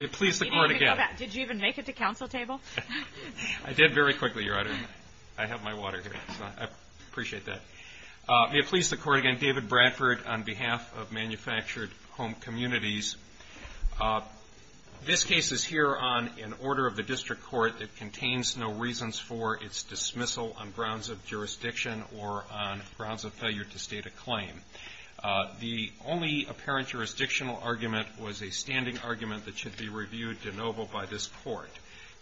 May it please the Court again, David Bradford on behalf of Manufactured Home Communities. This case is here on an order of the District Court that contains no reasons for its dismissal on grounds of jurisdiction or on grounds of failure to state a claim. The only apparent jurisdictional argument was a standing argument that should be reviewed de novo by this Court.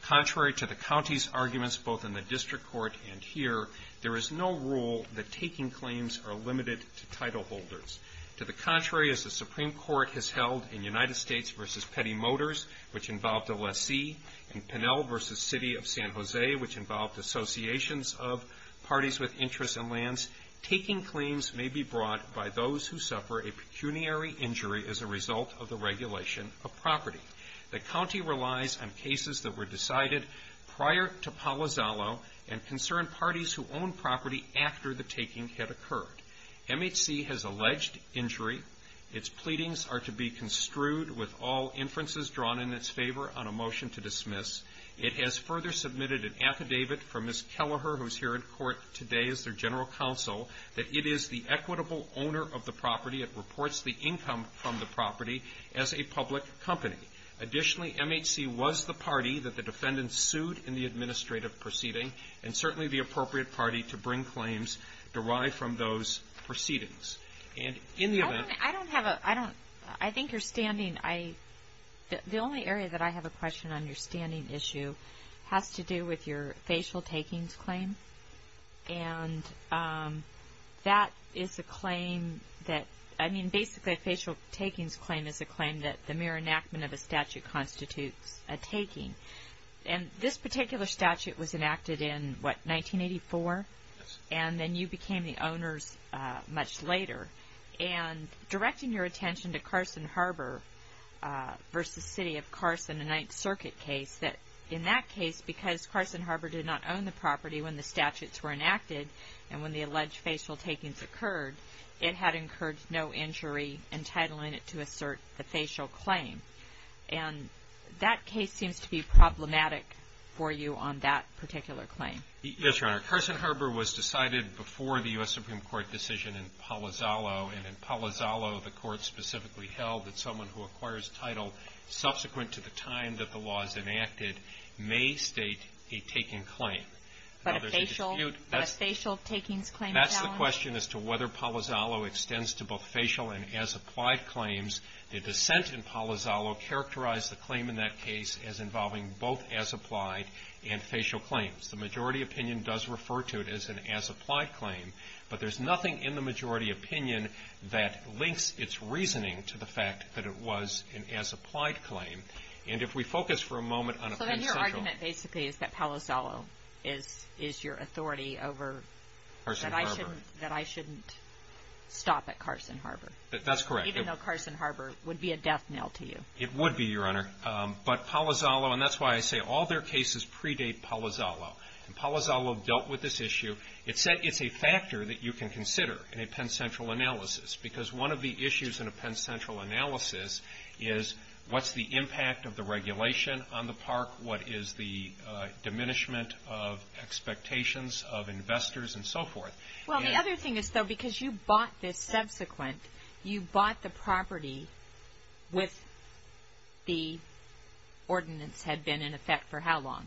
Contrary to the County's arguments both in the District Court and here, there is no rule that taking claims are limited to title holders. To the contrary, as the Supreme Court has held in United States v. Petty Motors, which involved a lessee, and Pinel v. City of San Jose, which involved associations of parties with interests in lands, taking claims may be brought by those who suffer a pecuniary injury as a result of the regulation of property. The County relies on cases that were decided prior to Palo Zallo and concerned parties who owned property after the taking had occurred. MHC has alleged injury. Its pleadings are to be construed with all inferences drawn in its favor on a motion to dismiss. It has further submitted an affidavit from Ms. Kelleher, who is here in court today as their General Counsel, that it is the equitable owner of the property. It reports the income from the property as a public company. Additionally, MHC was the party that the defendant sued in the administrative proceeding, and certainly the appropriate party to bring claims derived from those proceedings. And in the event of a... I don't have a... I don't... I think you're standing... The only area that I have a question on your standing issue has to do with your facial takings claim. And that is a claim that... I mean, basically, a facial takings claim is a claim that the mere enactment of a statute constitutes a taking. And this particular statute was enacted in, what, 1984? Yes. And then you became the owners much later. And directing your attention to Carson Harbor v. City of Carson, a Ninth Circuit case, that in that case, because Carson Harbor did not own the property when the statutes were enacted, and when the alleged facial takings occurred, it had incurred no injury entitling it to assert the facial claim. And that case seems to be problematic for you on that particular claim. Yes, Your Honor. Carson Harbor was decided before the U.S. Supreme Court decision in 1984. And the majority opinion, who acquires title subsequent to the time that the law is enacted, may state a taking claim. But a facial takings claim is not one? That's the question as to whether Palazzolo extends to both facial and as-applied claims. The dissent in Palazzolo characterized the claim in that case as involving both as-applied and facial claims. The majority opinion does refer to it as an as-applied claim. But there's nothing in the majority opinion that links its reasoning to the fact that it was an as-applied claim. And if we focus for a moment on a facial claim... So then your argument basically is that Palazzolo is your authority over... Carson Harbor. ...that I shouldn't stop at Carson Harbor. That's correct. Even though Carson Harbor would be a death knell to you. It would be, Your Honor. But Palazzolo, and that's why I say all their cases predate Palazzolo. And Palazzolo dealt with this issue. It's a factor that you can consider in a Penn Central analysis. Because one of the issues in a Penn Central analysis is what's the impact of the regulation on the park? What is the diminishment of expectations of investors and so forth? Well, the other thing is, though, because you bought this subsequent, you bought the property with the ordinance had been in effect for how long?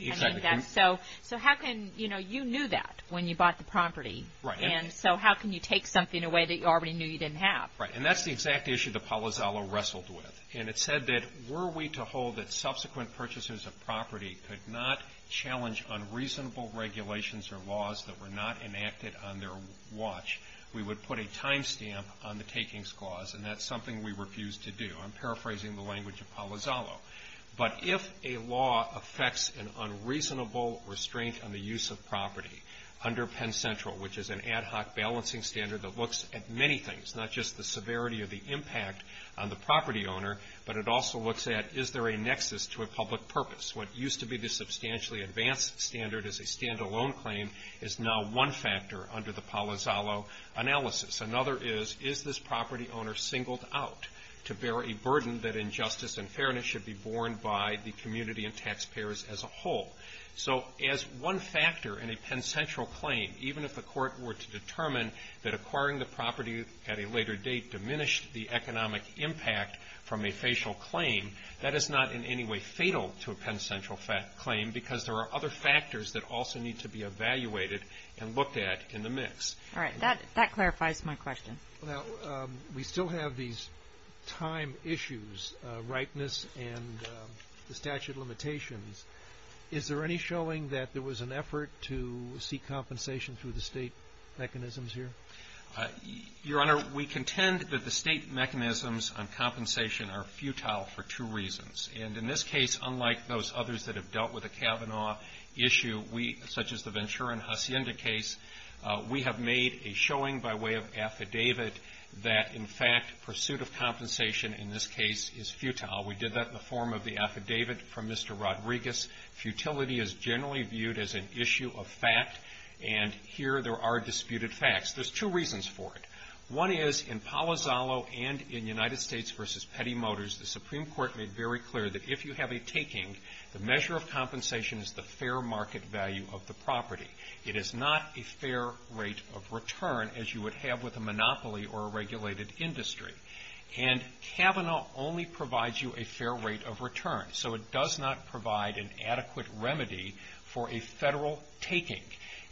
Exactly. So how can, you know, you knew that when you bought the property. Right. And so how can you take something away that you already knew you didn't have? Right. And that's the exact issue that Palazzolo wrestled with. And it said that were we to hold that subsequent purchases of property could not challenge unreasonable regulations or laws that were not enacted on their watch, we would put a time stamp on the takings clause. And that's something we refused to do. I'm paraphrasing the language of Palazzolo. But if a law affects an unreasonable restraint on the use of property under Penn Central, which is an ad hoc balancing standard that looks at many things, not just the severity of the impact on the property owner, but it also looks at is there a nexus to a public purpose? What used to be the substantially advanced standard as a standalone claim is now one factor under the Palazzolo analysis. Another is, is this property owner singled out to bear a burden that injustice and fairness should be borne by the community and taxpayers as a whole? So as one factor in a Penn Central claim, even if the court were to determine that acquiring the property at a later date diminished the economic impact from a facial claim, that is not in any way fatal to a Penn Central claim because there are other factors that also need to be evaluated and looked at in the mix. All right. That clarifies my question. Now, we still have these time issues, rightness and the statute of limitations. Is there any showing that there was an effort to seek compensation through the state mechanisms here? Your Honor, we contend that the state mechanisms on compensation are futile for two reasons. And in this case, unlike those others that have dealt with the Kavanaugh issue, such as the Ventura and Hacienda case, we have made a showing by way of affidavit that, in fact, pursuit of compensation in this case is futile. We did that in the form of the affidavit from Mr. Rodriguez. Futility is generally viewed as an issue of fact. And here there are disputed facts. There's two reasons for it. One is, in Palazzolo and in United States v. Petty Motors, the Supreme Court made very clear that if you have a taking, the measure of compensation is the fair market value of the property. It is not a fair rate of return as you would have with a monopoly or a regulated industry. And Kavanaugh only provides you a fair rate of return. So it does not provide an adequate remedy for a Federal taking.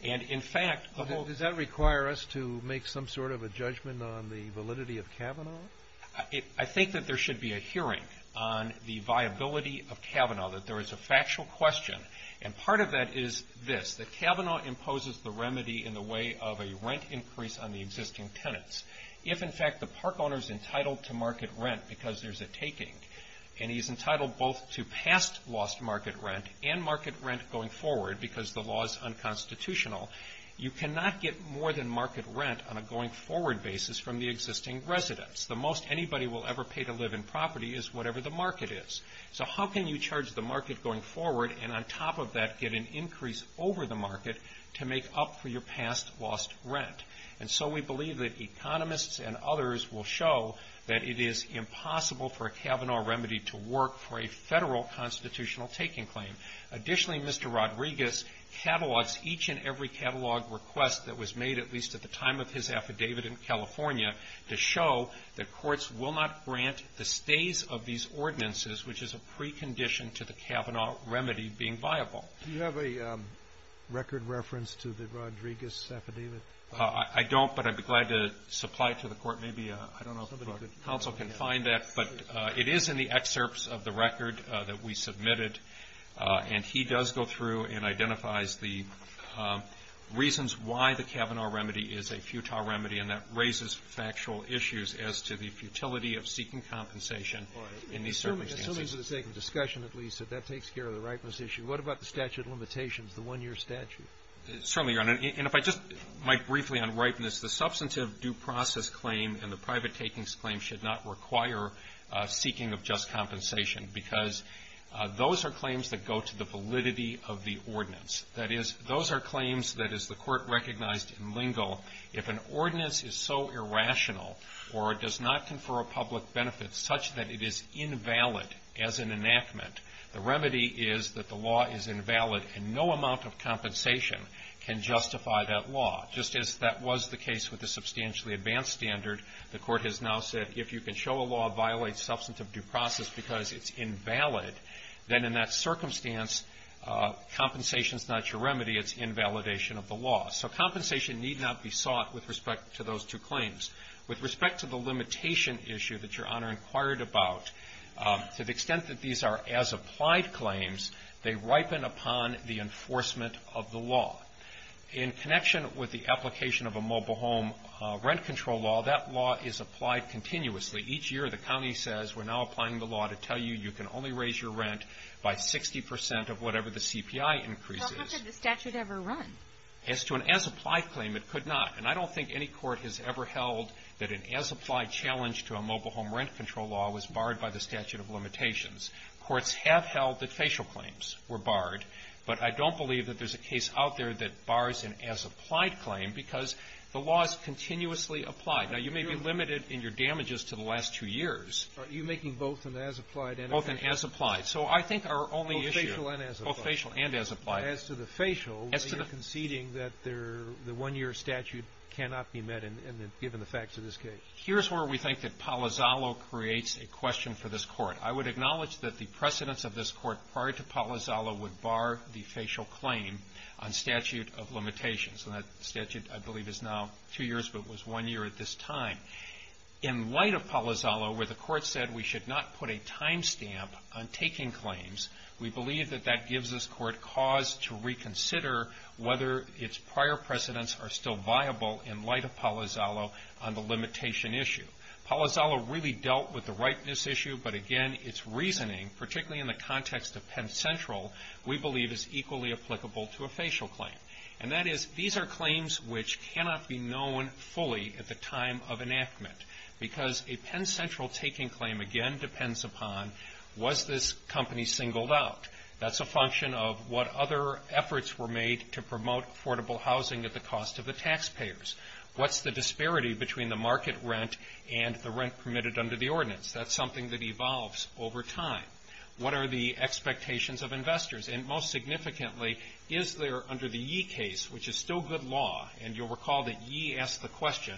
And, in fact, the whole ---- Well, does that require us to make some sort of a judgment on the validity of Kavanaugh? I think that there should be a hearing on the viability of Kavanaugh, that there is a factual question. And part of that is this, that Kavanaugh imposes the remedy in the way of a rent increase on the existing tenants. If, in fact, the park owner is entitled to market rent because there's a taking, and he's entitled both to past lost market rent and market rent going forward because the law is unconstitutional, you cannot get more than market rent on a going forward basis from the existing residents. The most anybody will ever pay to live in property is whatever the market is. So how can you charge the market going forward and, on top of that, get an increase over the market to make up for your past lost rent? And so we believe that economists and others will show that it is impossible for a Kavanaugh remedy to work for a Federal constitutional taking claim. Additionally, Mr. Rodriguez catalogs each and every catalog request that was made, at least at the time of his affidavit in California, to show that courts will not grant the stays of these ordinances, which is a precondition to the Kavanaugh remedy being viable. Do you have a record reference to the Rodriguez affidavit? I don't, but I'd be glad to supply it to the Court. Maybe I don't know if the Council can find that. But it is in the excerpts of the record that we submitted. And he does go through and identifies the reasons why the Kavanaugh remedy is a futile remedy, and that raises factual issues as to the futility of seeking compensation in these circumstances. Certainly. That's something for the sake of discussion, at least, if that takes care of the ripeness issue. What about the statute of limitations, the one-year statute? Certainly, Your Honor. And if I just might briefly unripen this. The substantive due process claim and the private takings claim should not require seeking of just compensation because those are claims that go to the validity of the ordinance. That is, those are claims that, as the Court recognized in Lingle, if an ordinance is so irrational or does not confer a public benefit such that it is invalid as an enactment, the remedy is that the law is invalid, and no amount of compensation can justify that law. Just as that was the case with the substantially advanced standard, the Court has now said, if you can show a law violates substantive due process because it's invalid, then in that circumstance, compensation is not your remedy. It's invalidation of the law. So compensation need not be sought with respect to those two claims. With respect to the limitation issue that Your Honor inquired about, to the extent that these are as-applied claims, they ripen upon the enforcement of the law. In connection with the application of a mobile home rent control law, that law is applied continuously. Each year, the county says, we're now applying the law to tell you you can only raise your rent by 60 percent of whatever the CPI increase is. Well, how could the statute ever run? As to an as-applied claim, it could not. And I don't think any court has ever held that an as-applied challenge to a mobile home rent control law was barred by the statute of limitations. Courts have held that facial claims were barred, but I don't believe that there's a case out there that bars an as-applied claim because the law is continuously applied. Now, you may be limited in your damages to the last two years. Are you making both an as-applied and a facial? Both an as-applied. So I think our only issue — Both facial and as-applied. Both facial and as-applied. As to the facial, you're conceding that the one-year statute cannot be met, given the facts of this case. Here's where we think that Palazzolo creates a question for this Court. I would acknowledge that the precedents of this Court prior to Palazzolo would bar the facial claim on statute of limitations. And that statute, I believe, is now two years, but was one year at this time. In light of Palazzolo, where the Court said we should not put a timestamp on taking claims, we believe that that gives this Court cause to reconsider whether its prior precedents are still viable in light of Palazzolo on the limitation issue. Palazzolo really dealt with the ripeness issue, but again, its reasoning, particularly in the context of Penn Central, we believe is equally applicable to a facial claim. And that is, these are claims which cannot be known fully at the time of enactment, because a Penn Central taking claim, again, depends upon was this company singled out? That's a function of what other efforts were made to promote affordable housing at the cost of the taxpayers. What's the disparity between the market rent and the rent permitted under the ordinance? That's something that evolves over time. What are the expectations of investors? And most significantly, is there, under the Yee case, which is still good law, and you'll recall that Yee asked the question,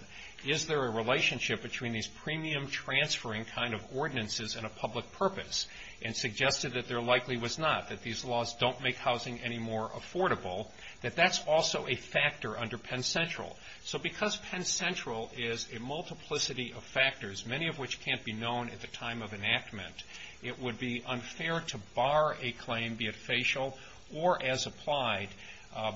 is there a relationship between these premium transferring kind of ordinances and a public purpose, and suggested that there likely was not, that these laws don't make housing any more affordable, that that's also a factor under Penn Central. So because Penn Central is a multiplicity of factors, many of which can't be known at the time of enactment, it would be unfair to bar a claim, be it facial or as applied,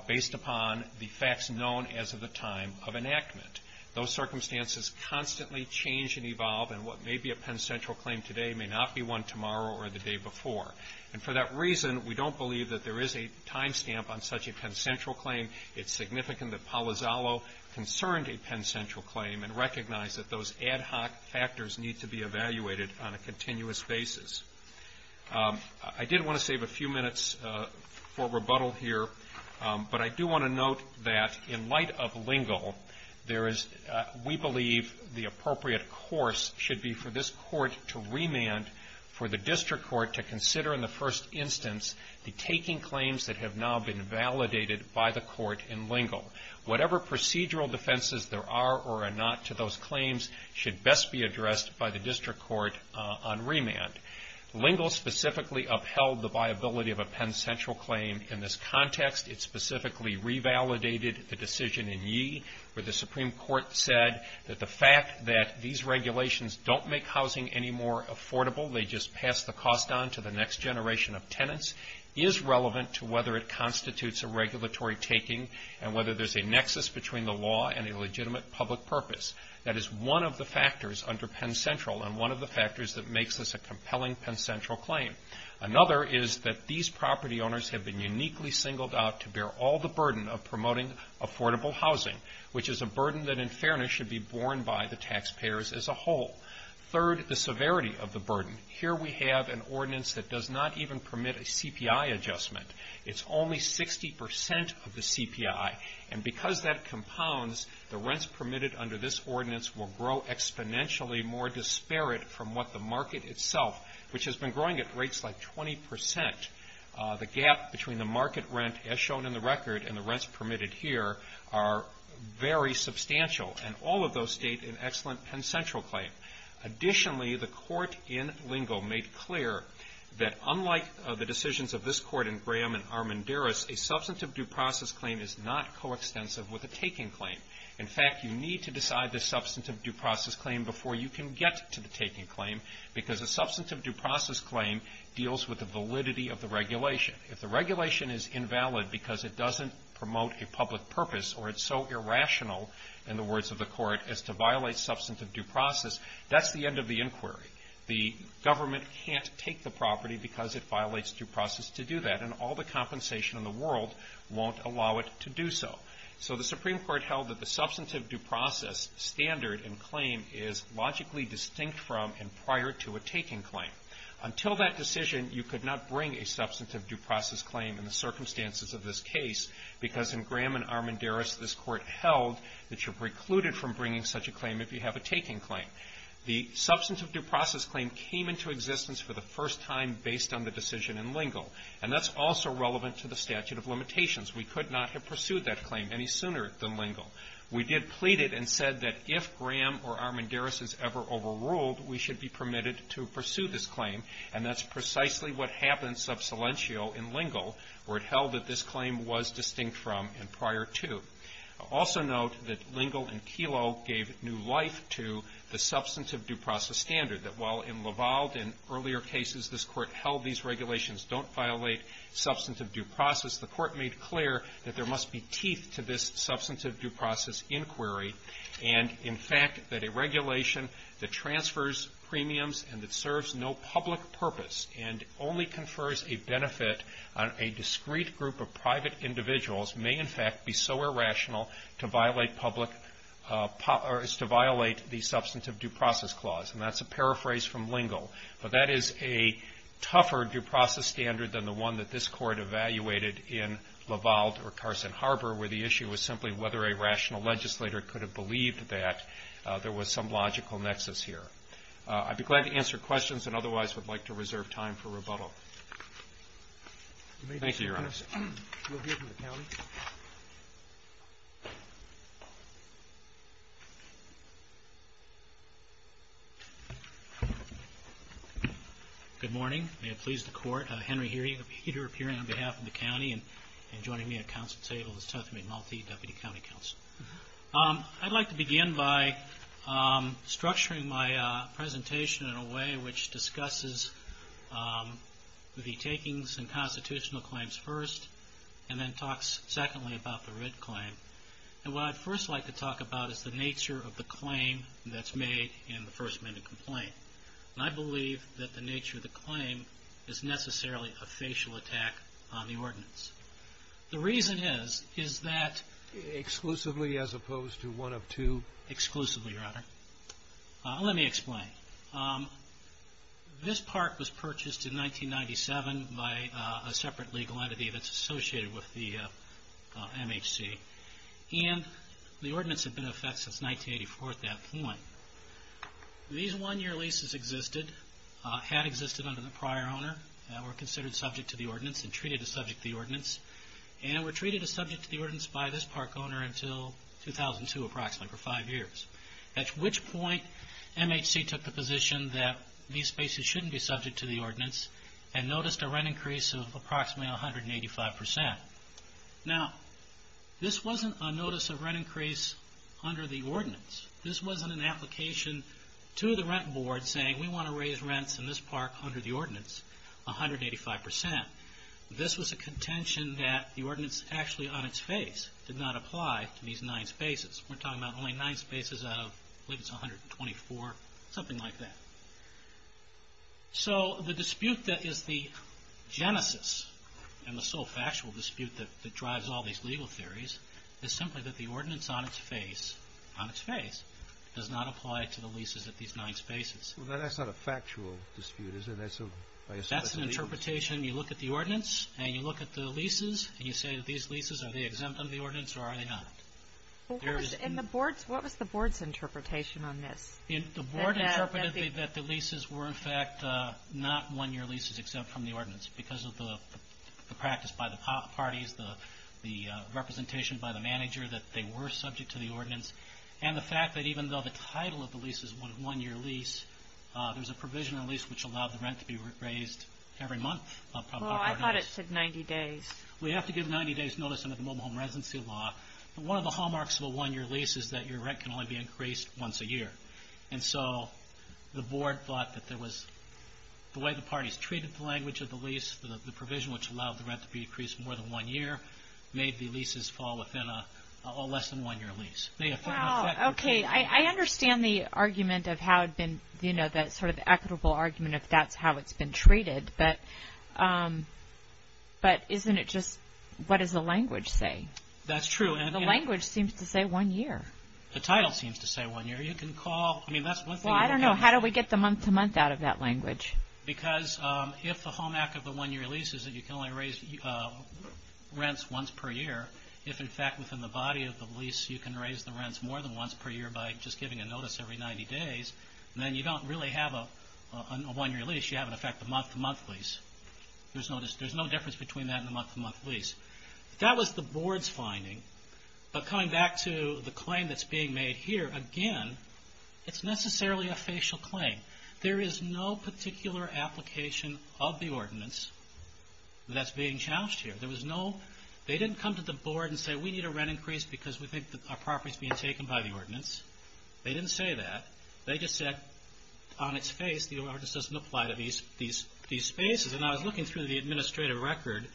based upon the facts known as of the time of enactment. Those circumstances constantly change and evolve, and what may be a Penn Central claim today may not be one tomorrow or the day before. And for that reason, we don't believe that there is a time stamp on such a Penn Central claim. It's significant that Palazzolo concerned a Penn Central claim and recognized that those ad hoc factors need to be evaluated on a continuous basis. I did want to save a few minutes for rebuttal here, but I do want to note that, in light of Lingle, there is, we believe the appropriate course should be for this court to remand, for the district court to consider in the first instance, the taking claims that have now been validated by the court in Lingle. Whatever procedural defenses there are or are not to those claims should best be addressed by the district court on remand. Lingle specifically upheld the viability of a Penn Central claim in this context. It specifically revalidated the decision in Yee, where the Supreme Court said that the fact that these regulations don't make housing any more affordable, they just pass the cost on to the next generation of tenants, is relevant to whether it constitutes a regulatory taking and whether there's a nexus between the law and a legitimate public purpose. That is one of the factors under Penn Central and one of the factors that makes this a compelling Penn Central claim. Another is that these property owners have been uniquely singled out to bear all the burden of promoting affordable housing, which is a burden that, in fairness, should be borne by the taxpayers as a whole. Third, the severity of the burden. Here we have an ordinance that does not even permit a CPI adjustment. It's only 60% of the CPI, and because that compounds, the rents permitted under this ordinance will grow exponentially more disparate from what the market itself, which has been growing at rates like 20%. The gap between the market rent, as shown in the record, and the rents permitted here are very substantial, and all of those state in excellent Penn Central claim. Additionally, the court in Lingo made clear that, unlike the decisions of this court in Graham and Armendaris, a substantive due process claim is not coextensive with a taking claim. In fact, you need to decide the substantive due process claim before you can get to the taking claim, because a substantive due process claim deals with the validity of the regulation. If the regulation is invalid because it doesn't promote a public purpose, or it's so irrational, in the words of the court, as to violate substantive due process, that's the end of the inquiry. The government can't take the property because it violates due process to do that, and all the compensation in the world won't allow it to do so. So the Supreme Court held that the substantive due process standard and claim is logically distinct from and prior to a taking claim. Until that decision, you could not bring a substantive due process claim in the circumstances of this case, because in Graham and Armendaris, this court held that you're precluded from bringing such a claim if you have a taking claim. The substantive due process claim came into existence for the first time based on the decision in Lingo, and that's also relevant to the statute of limitations. We could not have pursued that claim any sooner than Lingo. We did plead it and said that if Graham or Armendaris is ever overruled, we should be permitted to have an subsilentio in Lingo, where it held that this claim was distinct from and prior to. Also note that Lingo and Kelo gave new life to the substantive due process standard, that while in Lavalde and earlier cases this Court held these regulations don't violate substantive due process, the Court made clear that there must be teeth to this substantive due process inquiry, and, in fact, that a regulation that transfers premiums and that confers a benefit on a discrete group of private individuals may, in fact, be so irrational to violate the substantive due process clause, and that's a paraphrase from Lingo. But that is a tougher due process standard than the one that this Court evaluated in Lavalde or Carson Harbor, where the issue was simply whether a rational legislator could have believed that there was some logical nexus here. I'd be glad to answer questions, and otherwise I'd like to reserve time for rebuttal. Thank you, Your Honor. We'll hear from the County. Good morning. May it please the Court. Henry Heeter, appearing on behalf of the County, and joining me at Council table is Tethy McMulthy, Deputy County Counsel. I'd like to begin by structuring my presentation in a way which discusses the takings and constitutional claims first, and then talks, secondly, about the writ claim. And what I'd first like to talk about is the nature of the claim that's made in the first-minute complaint. And I believe that the nature of the claim is necessarily a facial attack on the ordinance. The reason is, is that... Exclusively as opposed to one of two? Exclusively, Your Honor. Let me explain. This part was purchased in 1997 by a separate legal entity that's associated with the MHC, and the ordinance had been in effect since 1984 at that point. These one-year leases existed, had existed under the prior owner, and were considered subject to the ordinance, and treated as subject to the ordinance, and were treated as subject to the ordinance by this park owner until 2002, approximately, for five years. At which point, MHC took the position that these spaces shouldn't be subject to the ordinance, and noticed a rent increase of approximately 185%. Now, this wasn't a notice of rent increase under the ordinance. This wasn't an application to the rent board saying, we want to raise rents in this park under the ordinance 185%. This was a contention that the ordinance actually on its face did not apply to these nine spaces. We're talking about only nine spaces out of, I believe it's 124, something like that. So, the dispute that is the genesis, and the sole factual dispute that drives all these legal theories, is simply that the ordinance on its face, on its face, does not apply to the leases at these nine spaces. That's not a factual dispute, is it? That's an interpretation. You look at the ordinance, and you look at the leases, and you say that these leases, are they exempt from the ordinance, or are they not? What was the board's interpretation on this? The board interpreted that the leases were, in fact, not one-year leases except from the ordinance, because of the practice by the parties, the representation by the manager that they were subject to the ordinance, and the fact that even though the title of the lease is one-year lease, there's a provision in the lease which allowed the rent to be raised every month. Well, I thought it said 90 days. We have to give 90 days notice under the mobile home residency law. One of the hallmarks of a one-year lease is that your rent can only be increased once a year. And so, the board thought that there was, the way the parties treated the language of the lease, the provision which allowed the rent to be increased more than one year, made the leases fall within a less-than-one-year lease. Wow, okay. I understand the argument of how it had been, you know, that sort of equitable argument of that's how it's been treated, but isn't it just, what does the language say? That's true. The language seems to say one year. The title seems to say one year. You can call, I mean, that's one thing. Well, I don't know. How do we get the month-to-month out of that language? Because if the hallmark of a one-year lease is that you can only raise rents once per year, if in fact within the body of the lease you can raise the rents more than once per year by just giving a notice every 90 days, then you don't really have a one-year lease. You have, in effect, a month-to-month lease. There's no difference between that and a month-to-month lease. That was the board's finding. But coming back to the claim that's being made here, again, it's necessarily a facial claim. There is no particular application of the ordinance that's being challenged here. There was no, they didn't come to the board and say, we need a rent increase because we think our property is being taken by the ordinance. They didn't say that. They just said on its face the ordinance doesn't apply to these spaces. And I was looking through the administrative record,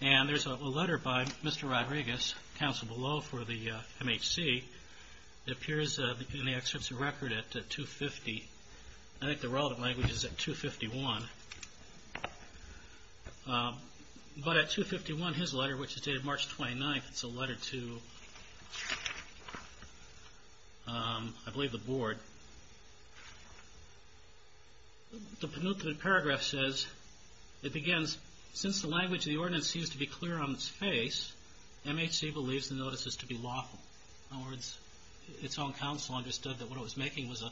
and there's a letter by Mr. Rodriguez, counsel below for the MHC, that appears in the excerpts of record at 250. I think the relative language is at 251. But at 251, his letter, which is dated March 29th, it's a letter to, I believe, the board. The penultimate paragraph says, it begins, since the language of the ordinance seems to be clear on its face, MHC believes the notice is to be lawful. In other words, its own counsel understood that what it was making was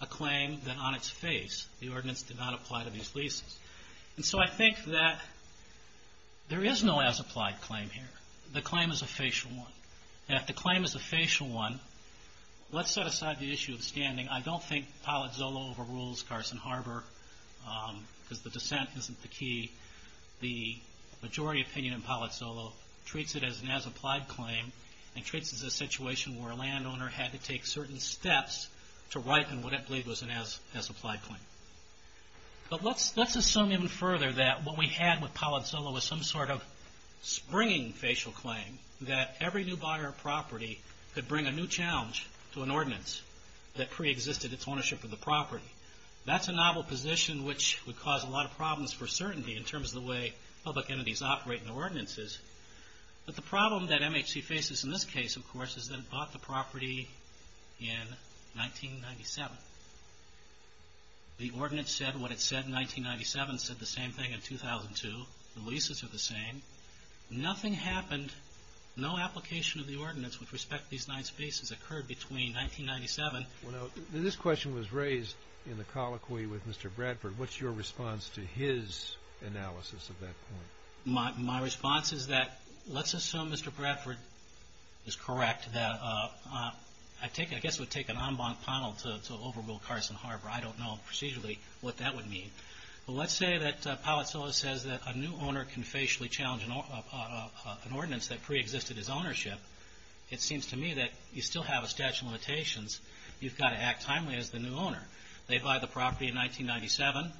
a claim that on its face the ordinance did not apply to these leases. And so I think that there is no as-applied claim here. The claim is a facial one. And if the claim is a facial one, let's set aside the issue of standing. I don't think Palazzolo overrules Carson Harbor because the dissent isn't the key. The majority opinion in Palazzolo treats it as an as-applied claim and treats it as a situation where a landowner had to take certain steps to write what I believe was an as-applied claim. But let's assume even further that what we had with Palazzolo was some sort of springing facial claim that every new buyer of property could bring a new challenge to an ordinance that preexisted its ownership of the property. That's a novel position which would cause a lot of problems for certainty in terms of the way public entities operate in ordinances. But the problem that MHC faces in this case, of course, is that it bought the property in 1997. The ordinance said what it said in 1997. It said the same thing in 2002. The leases are the same. Nothing happened. No application of the ordinance with respect to these nine spaces occurred between 1997. Well, now, this question was raised in the colloquy with Mr. Bradford. What's your response to his analysis of that point? My response is that let's assume Mr. Bradford is correct. I guess it would take an en banc panel to overrule Carson Harbor. I don't know procedurally what that would mean. But let's say that Palazzolo says that a new owner can facially challenge an ordinance that preexisted his ownership. It seems to me that you still have a statute of limitations. You've got to act timely as the new owner. They buy the property in 1997.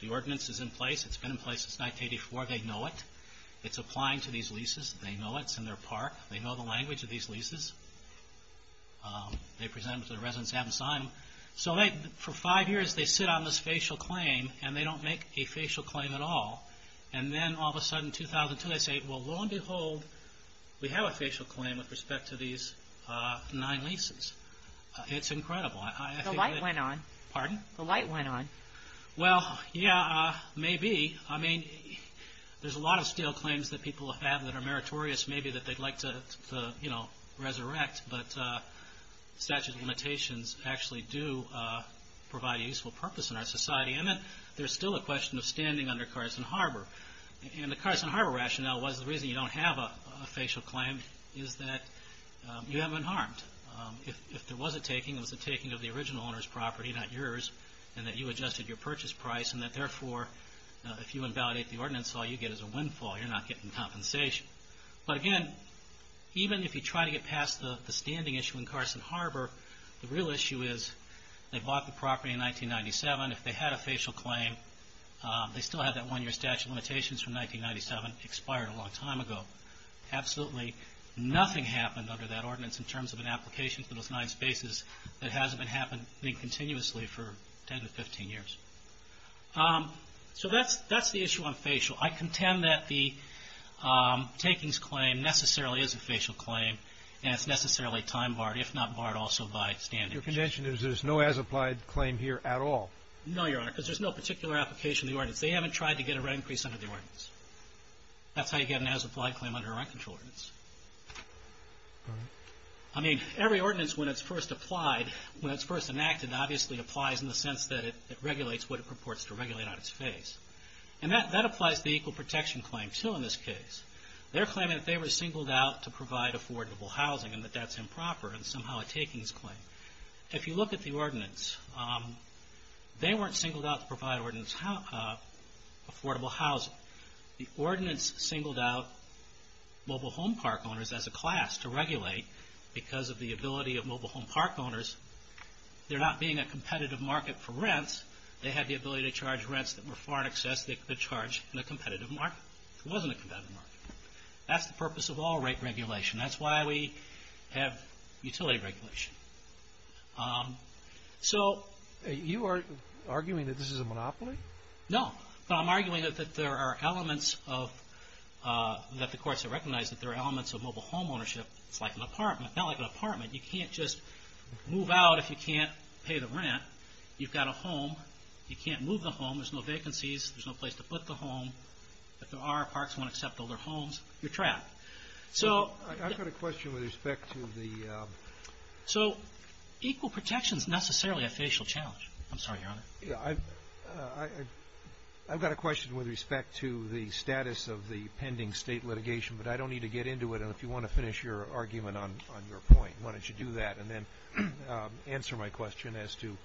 The ordinance is in place. It's been in place since 1984. They know it. It's applying to these leases. They know it. It's in their park. They know the language of these leases. They present it to the residents and have them sign. For five years, they sit on this facial claim, and they don't make a facial claim at all. And then all of a sudden, 2002, they say, well, lo and behold, we have a facial claim with respect to these nine leases. It's incredible. The light went on. Pardon? The light went on. Well, yeah, maybe. I mean, there's a lot of stale claims that people have that are meritorious, maybe that they'd like to, you know, resurrect. But statute of limitations actually do provide a useful purpose in our society. And then there's still a question of standing under Carson Harbor. And the Carson Harbor rationale was the reason you don't have a facial claim is that you haven't been harmed. If there was a taking, it was a taking of the original owner's property, not yours, and that you adjusted your purchase price, and that, therefore, if you invalidate the ordinance, all you get is a windfall. You're not getting compensation. But, again, even if you try to get past the standing issue in Carson Harbor, the real issue is they bought the property in 1997. If they had a facial claim, they still had that one-year statute of limitations from 1997, expired a long time ago. Absolutely nothing happened under that ordinance in terms of an application for those nine spaces that hasn't been happening continuously for 10 to 15 years. So that's the issue on facial. I contend that the takings claim necessarily is a facial claim, and it's necessarily time-barred, if not barred also by standing. Your contention is there's no as-applied claim here at all. No, Your Honor, because there's no particular application of the ordinance. They haven't tried to get a rent increase under the ordinance. That's how you get an as-applied claim under a rent control ordinance. All right. I mean, every ordinance, when it's first applied, when it's first enacted, obviously applies in the sense that it regulates what it purports to regulate on its face. And that applies to the equal protection claim, too, in this case. They're claiming that they were singled out to provide affordable housing and that that's improper and somehow a takings claim. If you look at the ordinance, they weren't singled out to provide affordable housing. The ordinance singled out mobile home park owners as a class to regulate because of the ability of mobile home park owners. They're not being a competitive market for rents. They had the ability to charge rents that were far in excess. They could charge in a competitive market. It wasn't a competitive market. That's the purpose of all rate regulation. That's why we have utility regulation. So. You are arguing that this is a monopoly? No. No, I'm arguing that there are elements of, that the courts have recognized, that there are elements of mobile home ownership. It's like an apartment. Not like an apartment. You can't just move out if you can't pay the rent. You've got a home. You can't move the home. There's no vacancies. There's no place to put the home. If there are parks that won't accept older homes, you're trapped. So. I've got a question with respect to the. So, equal protection is necessarily a facial challenge. I'm sorry, Your Honor. I've got a question with respect to the status of the pending state litigation, but I don't need to get into it. And if you want to finish your argument on your point, why don't you do that and then answer my question as to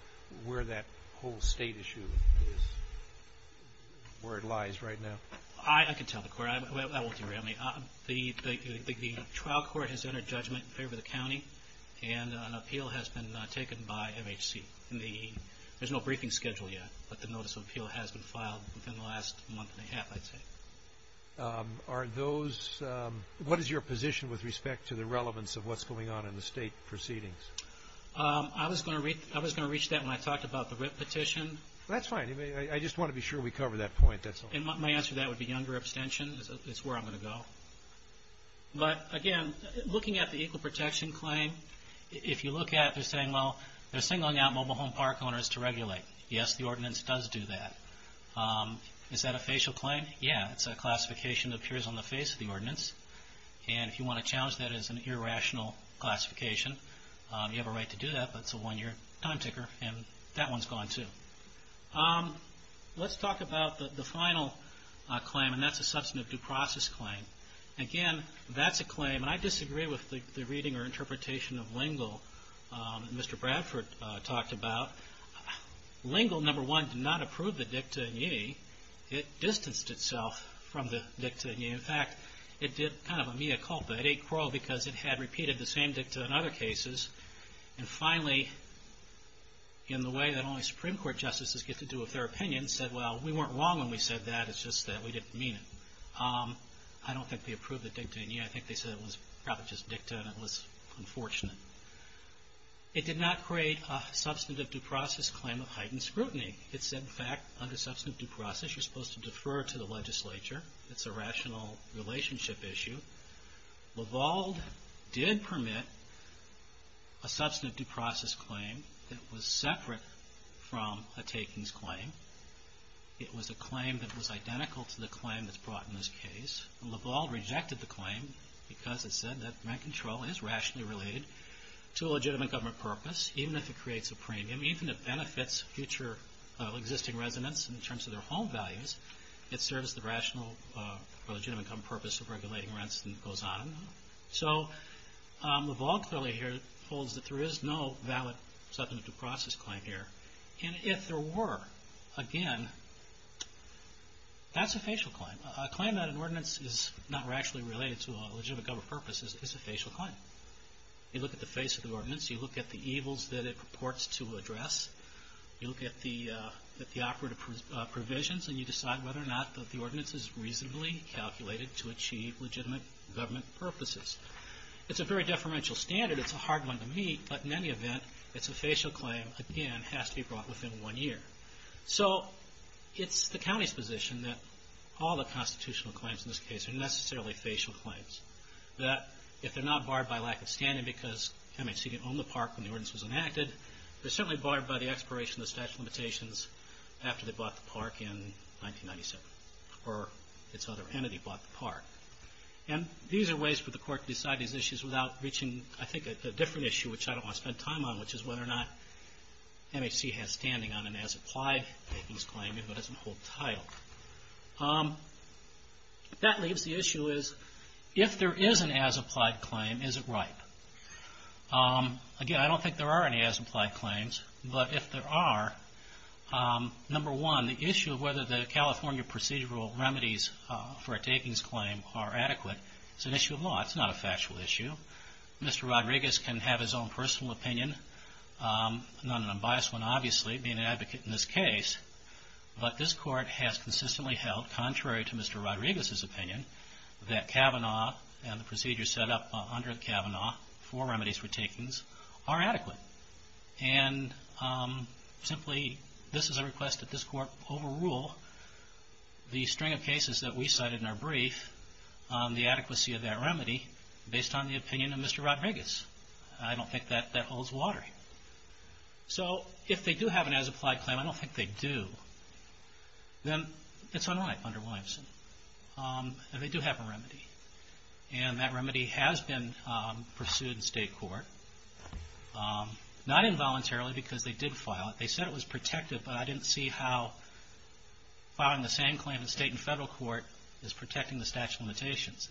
where that whole state issue is, where it lies right now. I can tell the court. I won't do it. The trial court has entered judgment in favor of the county, and an appeal has been taken by MHC. There's no briefing schedule yet, but the notice of appeal has been filed within the last month and a half, I'd say. Are those. What is your position with respect to the relevance of what's going on in the state proceedings? I was going to reach that when I talked about the WIP petition. That's fine. I just want to be sure we cover that point. My answer to that would be younger abstention. It's where I'm going to go. But, again, looking at the equal protection claim, if you look at it, they're saying, well, they're singling out mobile home park owners to regulate. Yes, the ordinance does do that. Is that a facial claim? Yeah, it's a classification that appears on the face of the ordinance. And if you want to challenge that as an irrational classification, you have a right to do that, but it's a one-year time ticker, and that one's gone too. Let's talk about the final claim, and that's a substantive due process claim. Again, that's a claim, and I disagree with the reading or interpretation of Lingle that Mr. Bradford talked about. Lingle, number one, did not approve the dicta in ye. It distanced itself from the dicta in ye. In fact, it did kind of a mea culpa. It ate crawl because it had repeated the same dicta in other cases. And finally, in the way that only Supreme Court justices get to do with their opinion, said, well, we weren't wrong when we said that. It's just that we didn't mean it. I don't think they approved the dicta in ye. I think they said it was probably just dicta, and it was unfortunate. It did not create a substantive due process claim of heightened scrutiny. It said, in fact, under substantive due process, you're supposed to defer to the legislature. It's a rational relationship issue. Lavalde did permit a substantive due process claim that was separate from a takings claim. It was a claim that was identical to the claim that's brought in this case. Lavalde rejected the claim because it said that rent control is rationally related to a legitimate government purpose, even if it creates a premium, even if it benefits future existing residents in terms of their home values. It serves the rational or legitimate government purpose of regulating rents, and it goes on. So Lavalde clearly here holds that there is no valid substantive due process claim here. And if there were, again, that's a facial claim. A claim that an ordinance is not rationally related to a legitimate government purpose is a facial claim. You look at the face of the ordinance, you look at the evils that it purports to address, you look at the operative provisions, and you decide whether or not the ordinance is reasonably calculated to achieve legitimate government purposes. It's a very deferential standard. It's a hard one to meet. But in any event, it's a facial claim, again, has to be brought within one year. So it's the county's position that all the constitutional claims in this case are necessarily facial claims, that if they're not barred by lack of standing because MHC didn't own the park when the ordinance was enacted, they're certainly barred by the expiration of the statute of limitations after they bought the park in 1997, or its other entity bought the park. And these are ways for the court to decide these issues without reaching, I think, a different issue, which I don't want to spend time on, which is whether or not MHC has standing on an as-applied vacancy claim if it doesn't hold title. That leaves the issue is, if there is an as-applied claim, is it right? Again, I don't think there are any as-applied claims, but if there are, number one, the issue of whether the California procedural remedies for a takings claim are adequate is an issue of law. It's not a factual issue. Mr. Rodriguez can have his own personal opinion. I'm not an unbiased one, obviously, being an advocate in this case. But this court has consistently held, contrary to Mr. Rodriguez's opinion, that Kavanaugh and the procedure set up under Kavanaugh for remedies for takings are adequate. And simply, this is a request that this court overrule the string of cases that we cited in our brief on the adequacy of that remedy based on the opinion of Mr. Rodriguez. I don't think that holds water here. So if they do have an as-applied claim, I don't think they do, then it's unright under Williamson. And they do have a remedy. And that remedy has been pursued in state court. Not involuntarily, because they did file it. They said it was protected, but I didn't see how filing the same claim in state and federal court is protecting the statute of limitations.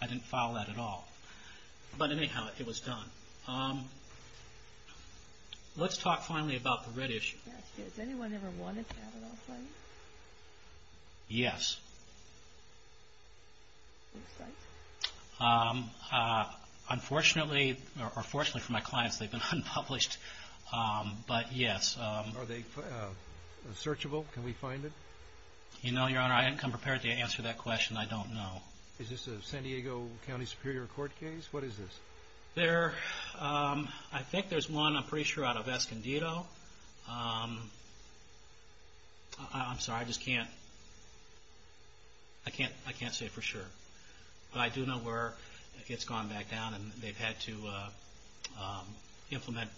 I didn't file that at all. But anyhow, it was done. Let's talk finally about the red issue. Has anyone ever wanted Kavanaugh's claim? Yes. Other sites? Unfortunately, or fortunately for my clients, they've been unpublished. But yes. Are they searchable? Can we find it? You know, Your Honor, I haven't come prepared to answer that question. I don't know. Is this a San Diego County Superior Court case? What is this? I think there's one, I'm pretty sure, out of Escondido. I'm sorry, I just can't say for sure. But I do know where it's gone back down and they've had to implement.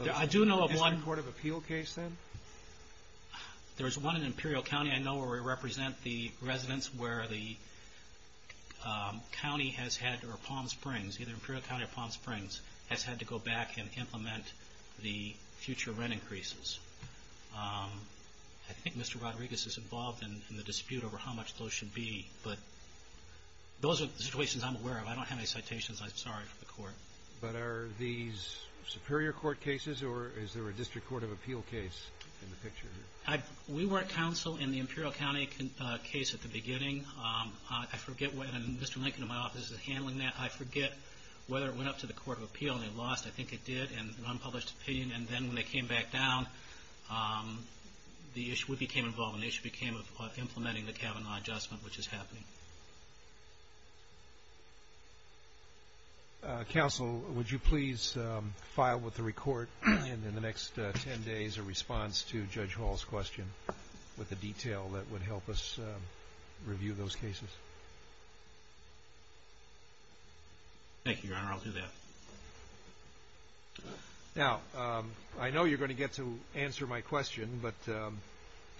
Is it a court of appeal case then? There's one in Imperial County I know where we represent the residents where the county has had, or Palm Springs, either Imperial County or Palm Springs, has had to go back and implement the future rent increases. I think Mr. Rodriguez is involved in the dispute over how much those should be. But those are the situations I'm aware of. I don't have any citations. I'm sorry for the Court. But are these Superior Court cases or is there a district court of appeal case in the picture here? We were at counsel in the Imperial County case at the beginning. I forget whether Mr. Lincoln in my office is handling that. I forget whether it went up to the court of appeal and they lost. I think it did in an unpublished opinion. And then when they came back down, we became involved in the issue of implementing the Kavanaugh adjustment, which is happening. Counsel, would you please file with the record in the next ten days a response to Judge Hall's question with the detail that would help us review those cases? Thank you, Your Honor. I'll do that. Now, I know you're going to get to answer my question, but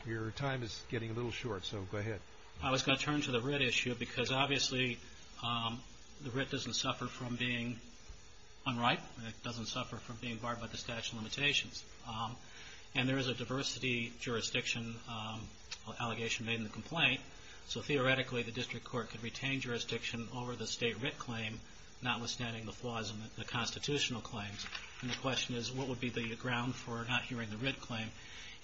your time is getting a little short, so go ahead. I was going to turn to the writ issue because, obviously, the writ doesn't suffer from being unright. It doesn't suffer from being barred by the statute of limitations. And there is a diversity jurisdiction allegation made in the complaint, so theoretically the district court could retain jurisdiction over the state writ claim, notwithstanding the flaws in the constitutional claims. And the question is, what would be the ground for not hearing the writ claim?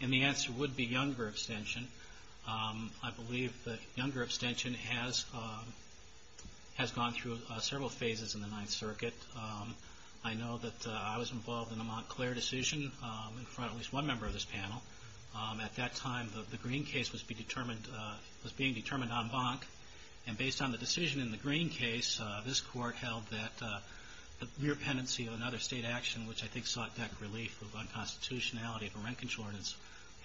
And the answer would be younger abstention. I believe that younger abstention has gone through several phases in the Ninth Circuit. I know that I was involved in the Montclair decision in front of at least one member of this panel. At that time, the Green case was being determined en banc, and based on the decision in the Green case, this Court held that the re-appendency of another state action, which I think sought debt relief for unconstitutionality of a rent contortance,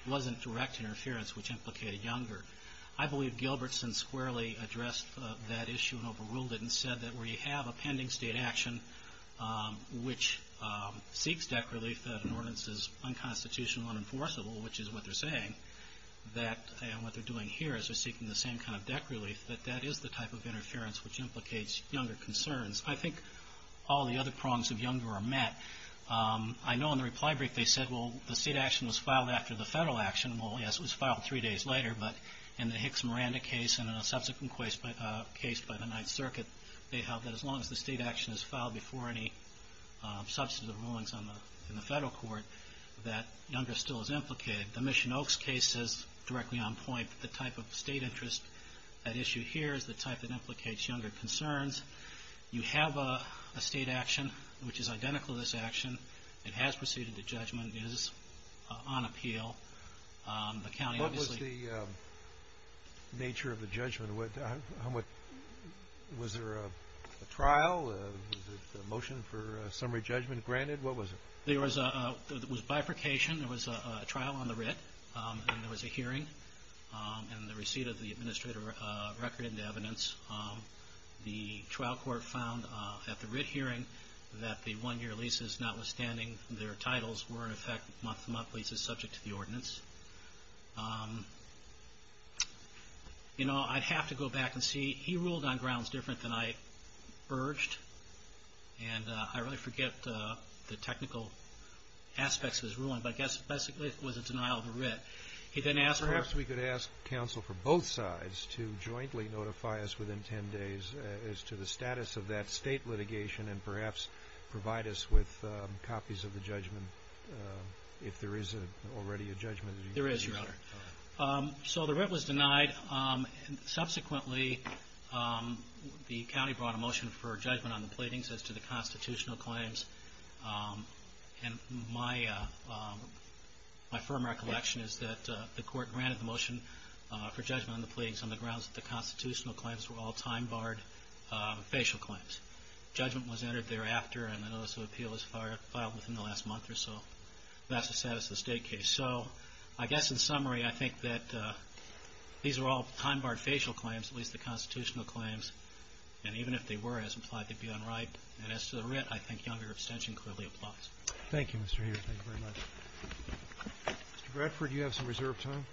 wasn't direct interference, which implicated younger. I believe Gilbertson squarely addressed that issue and overruled it and said that where you have a pending state action which seeks debt relief, that an ordinance is unconstitutional, unenforceable, which is what they're saying, that what they're doing here is they're seeking the same kind of debt relief, that that is the type of interference which implicates younger concerns. I think all the other prongs of younger are met. I know in the reply brief they said, well, the state action was filed after the federal action. Well, yes, it was filed three days later, but in the Hicks-Miranda case and in a subsequent case by the Ninth Circuit, they held that as long as the state action is filed before any substantive rulings in the federal court, that younger still is implicated. The Mission Oaks case is directly on point. The type of state interest at issue here is the type that implicates younger concerns. You have a state action which is identical to this action. It has proceeded to judgment, is on appeal. What was the nature of the judgment? Was there a trial? Was a motion for summary judgment granted? What was it? There was bifurcation. There was a trial on the writ and there was a hearing and the receipt of the administrator record and evidence. The trial court found at the writ hearing that the one-year leases, notwithstanding their titles, were in effect month-to-month leases subject to the ordinance. You know, I'd have to go back and see. He ruled on grounds different than I urged, and I really forget the technical aspects of his ruling, but I guess basically it was a denial of a writ. Perhaps we could ask counsel for both sides to jointly notify us within 10 days as to the status of that state litigation and perhaps provide us with copies of the judgment, if there is already a judgment. There is, Your Honor. So the writ was denied. Subsequently, the county brought a motion for judgment on the pleadings as to the constitutional claims, and my firm recollection is that the court granted the motion for judgment on the pleadings on the grounds that the constitutional claims were all time-barred facial claims. Judgment was entered thereafter, and a notice of appeal was filed within the last month or so. That's the status of the state case. So I guess in summary, I think that these are all time-barred facial claims, at least the constitutional claims, and even if they were, as implied to be, unright. And as to the writ, I think younger abstention clearly applies. Thank you, Mr. Heer. Thank you very much. Mr. Bradford, you have some reserve time.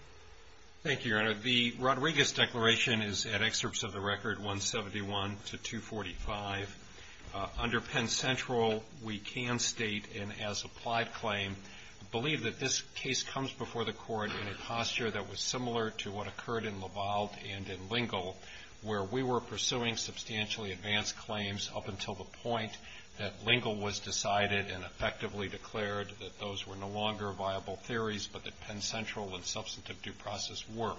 Thank you, Your Honor. The Rodriguez declaration is at excerpts of the record 171 to 245. Under Penn Central, we can state, and as applied claim, believe that this case comes before the court in a posture that was similar to what occurred in Laval and in Lingle, where we were pursuing substantially advanced claims up until the point that Lingle was decided and effectively declared that those were no longer viable theories, but that Penn Central and substantive due process were.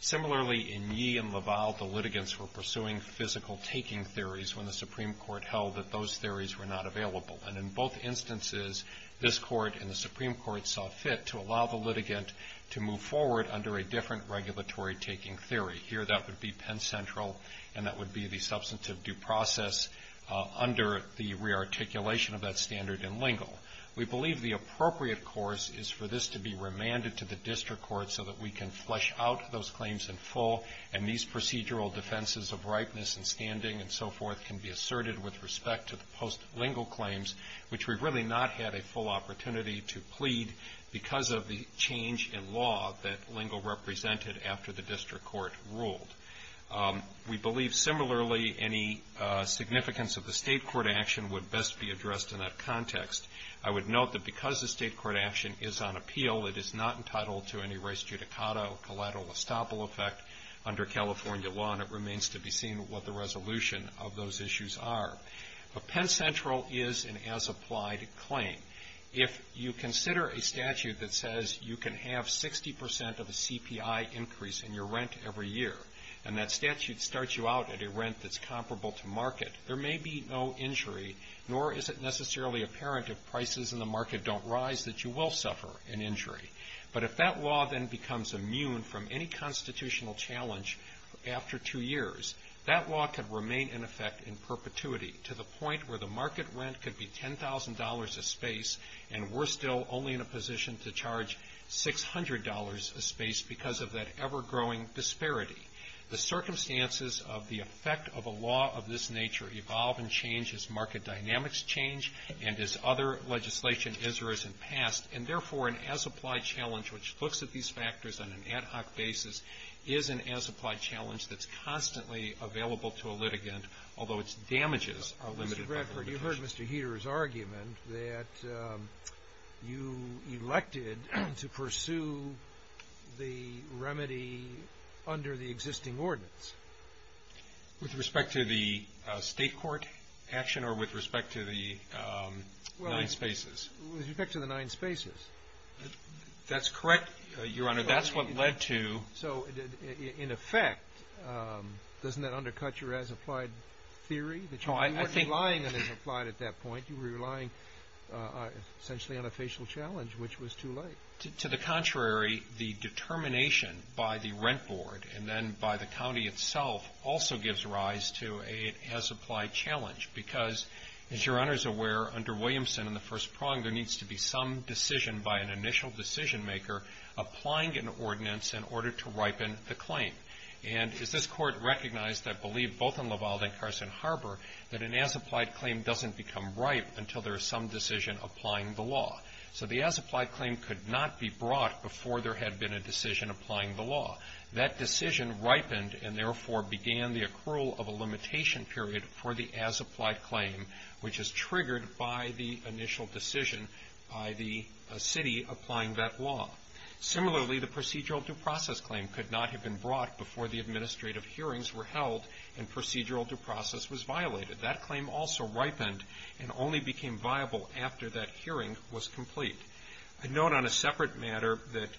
Similarly, in Yee and Laval, the litigants were pursuing physical taking theories when the Supreme Court held that those theories were not available. And in both instances, this Court and the Supreme Court saw fit to allow the litigant to move forward under a different regulatory taking theory. Here, that would be Penn Central, and that would be the substantive due process under the rearticulation of that standard in Lingle. We believe the appropriate course is for this to be remanded to the district court so that we can flesh out those claims in full, and these procedural defenses of ripeness and standing and so forth can be asserted with respect to the post-Lingle claims, which we've really not had a full opportunity to plead because of the change in law that Lingle represented after the district court ruled. We believe, similarly, any significance of the state court action would best be addressed in that context. I would note that because the state court action is on appeal, it is not entitled to any res judicata or collateral estoppel effect under California law, and it remains to be seen what the resolution of those issues are. But Penn Central is an as-applied claim. If you consider a statute that says you can have 60% of a CPI increase in your rent every year, and that statute starts you out at a rent that's comparable to market, there may be no injury, nor is it necessarily apparent if prices in the market don't rise that you will suffer an injury. But if that law then becomes immune from any constitutional challenge after two years, that law could remain in effect in perpetuity to the point where the market rent could be $10,000 a space, and we're still only in a position to charge $600 a space because of that ever-growing disparity. The circumstances of the effect of a law of this nature evolve and change as market dynamics change and as other legislation is or has in the past. And, therefore, an as-applied challenge which looks at these factors on an ad hoc basis is an as-applied challenge that's constantly available to a litigant, although its damages are limited by litigation. You've heard Mr. Heeter's argument that you elected to pursue the remedy under the existing ordinance. With respect to the state court action or with respect to the nine spaces? With respect to the nine spaces. That's correct, Your Honor. That's what led to... So, in effect, doesn't that undercut your as-applied theory? No, I think... You weren't relying on an as-applied at that point. You were relying essentially on a facial challenge, which was too late. To the contrary, the determination by the rent board and then by the county itself also gives rise to an as-applied challenge because, as Your Honor is aware, under Williamson in the first prong, there needs to be some decision by an initial decision maker applying an ordinance in order to ripen the claim. And as this court recognized, I believe, both in Laval and Carson Harbor, that an as-applied claim doesn't become ripe until there is some decision applying the law. So the as-applied claim could not be brought before there had been a decision applying the law. That decision ripened and, therefore, began the accrual of a limitation period for the as-applied claim, which is triggered by the initial decision by the city applying that law. Similarly, the procedural due process claim could not have been brought before the administrative hearings were held and procedural due process was violated. That claim also ripened and only became viable after that hearing was complete. A note on a separate matter that,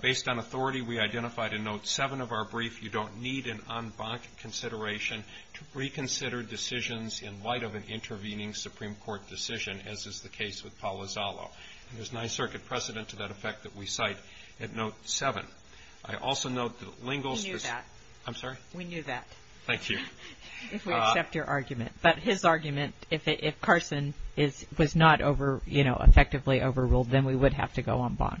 based on authority, we identified in Note 7 of our brief, you don't need an en banc consideration to reconsider decisions in light of an intervening Supreme Court decision, as is the case with Paul Lozano. And there's a Ninth Circuit precedent to that effect that we cite at Note 7. I also note that Lingle's- We knew that. I'm sorry? We knew that. Thank you. If we accept your argument. But his argument, if Carson was not effectively overruled, then we would have to go en banc.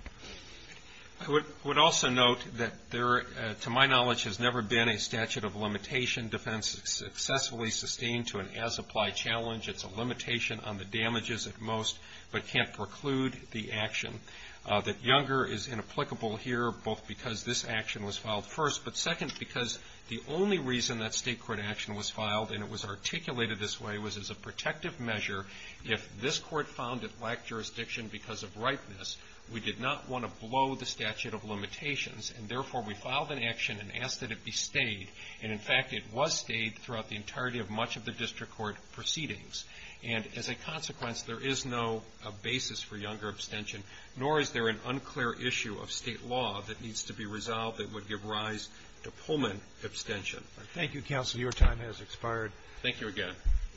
I would also note that there, to my knowledge, has never been a statute of limitation defense successfully sustained to an as-applied challenge. It's a limitation on the damages at most, but can't preclude the action. That Younger is inapplicable here, both because this action was filed first, but second because the only reason that state court action was filed, and it was articulated this way, was as a protective measure. If this court found it lacked jurisdiction because of ripeness, we did not want to blow the statute of limitations, and therefore we filed an action and asked that it be stayed. And, in fact, it was stayed throughout the entirety of much of the district court proceedings. And as a consequence, there is no basis for Younger abstention, nor is there an unclear issue of state law that needs to be resolved that would give rise to Pullman abstention. Thank you, counsel. Your time has expired. Thank you again.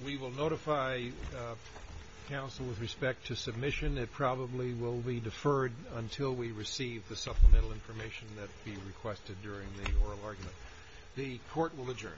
We will notify counsel with respect to submission. It probably will be deferred until we receive the supplemental information that will be requested during the oral argument. The court will adjourn.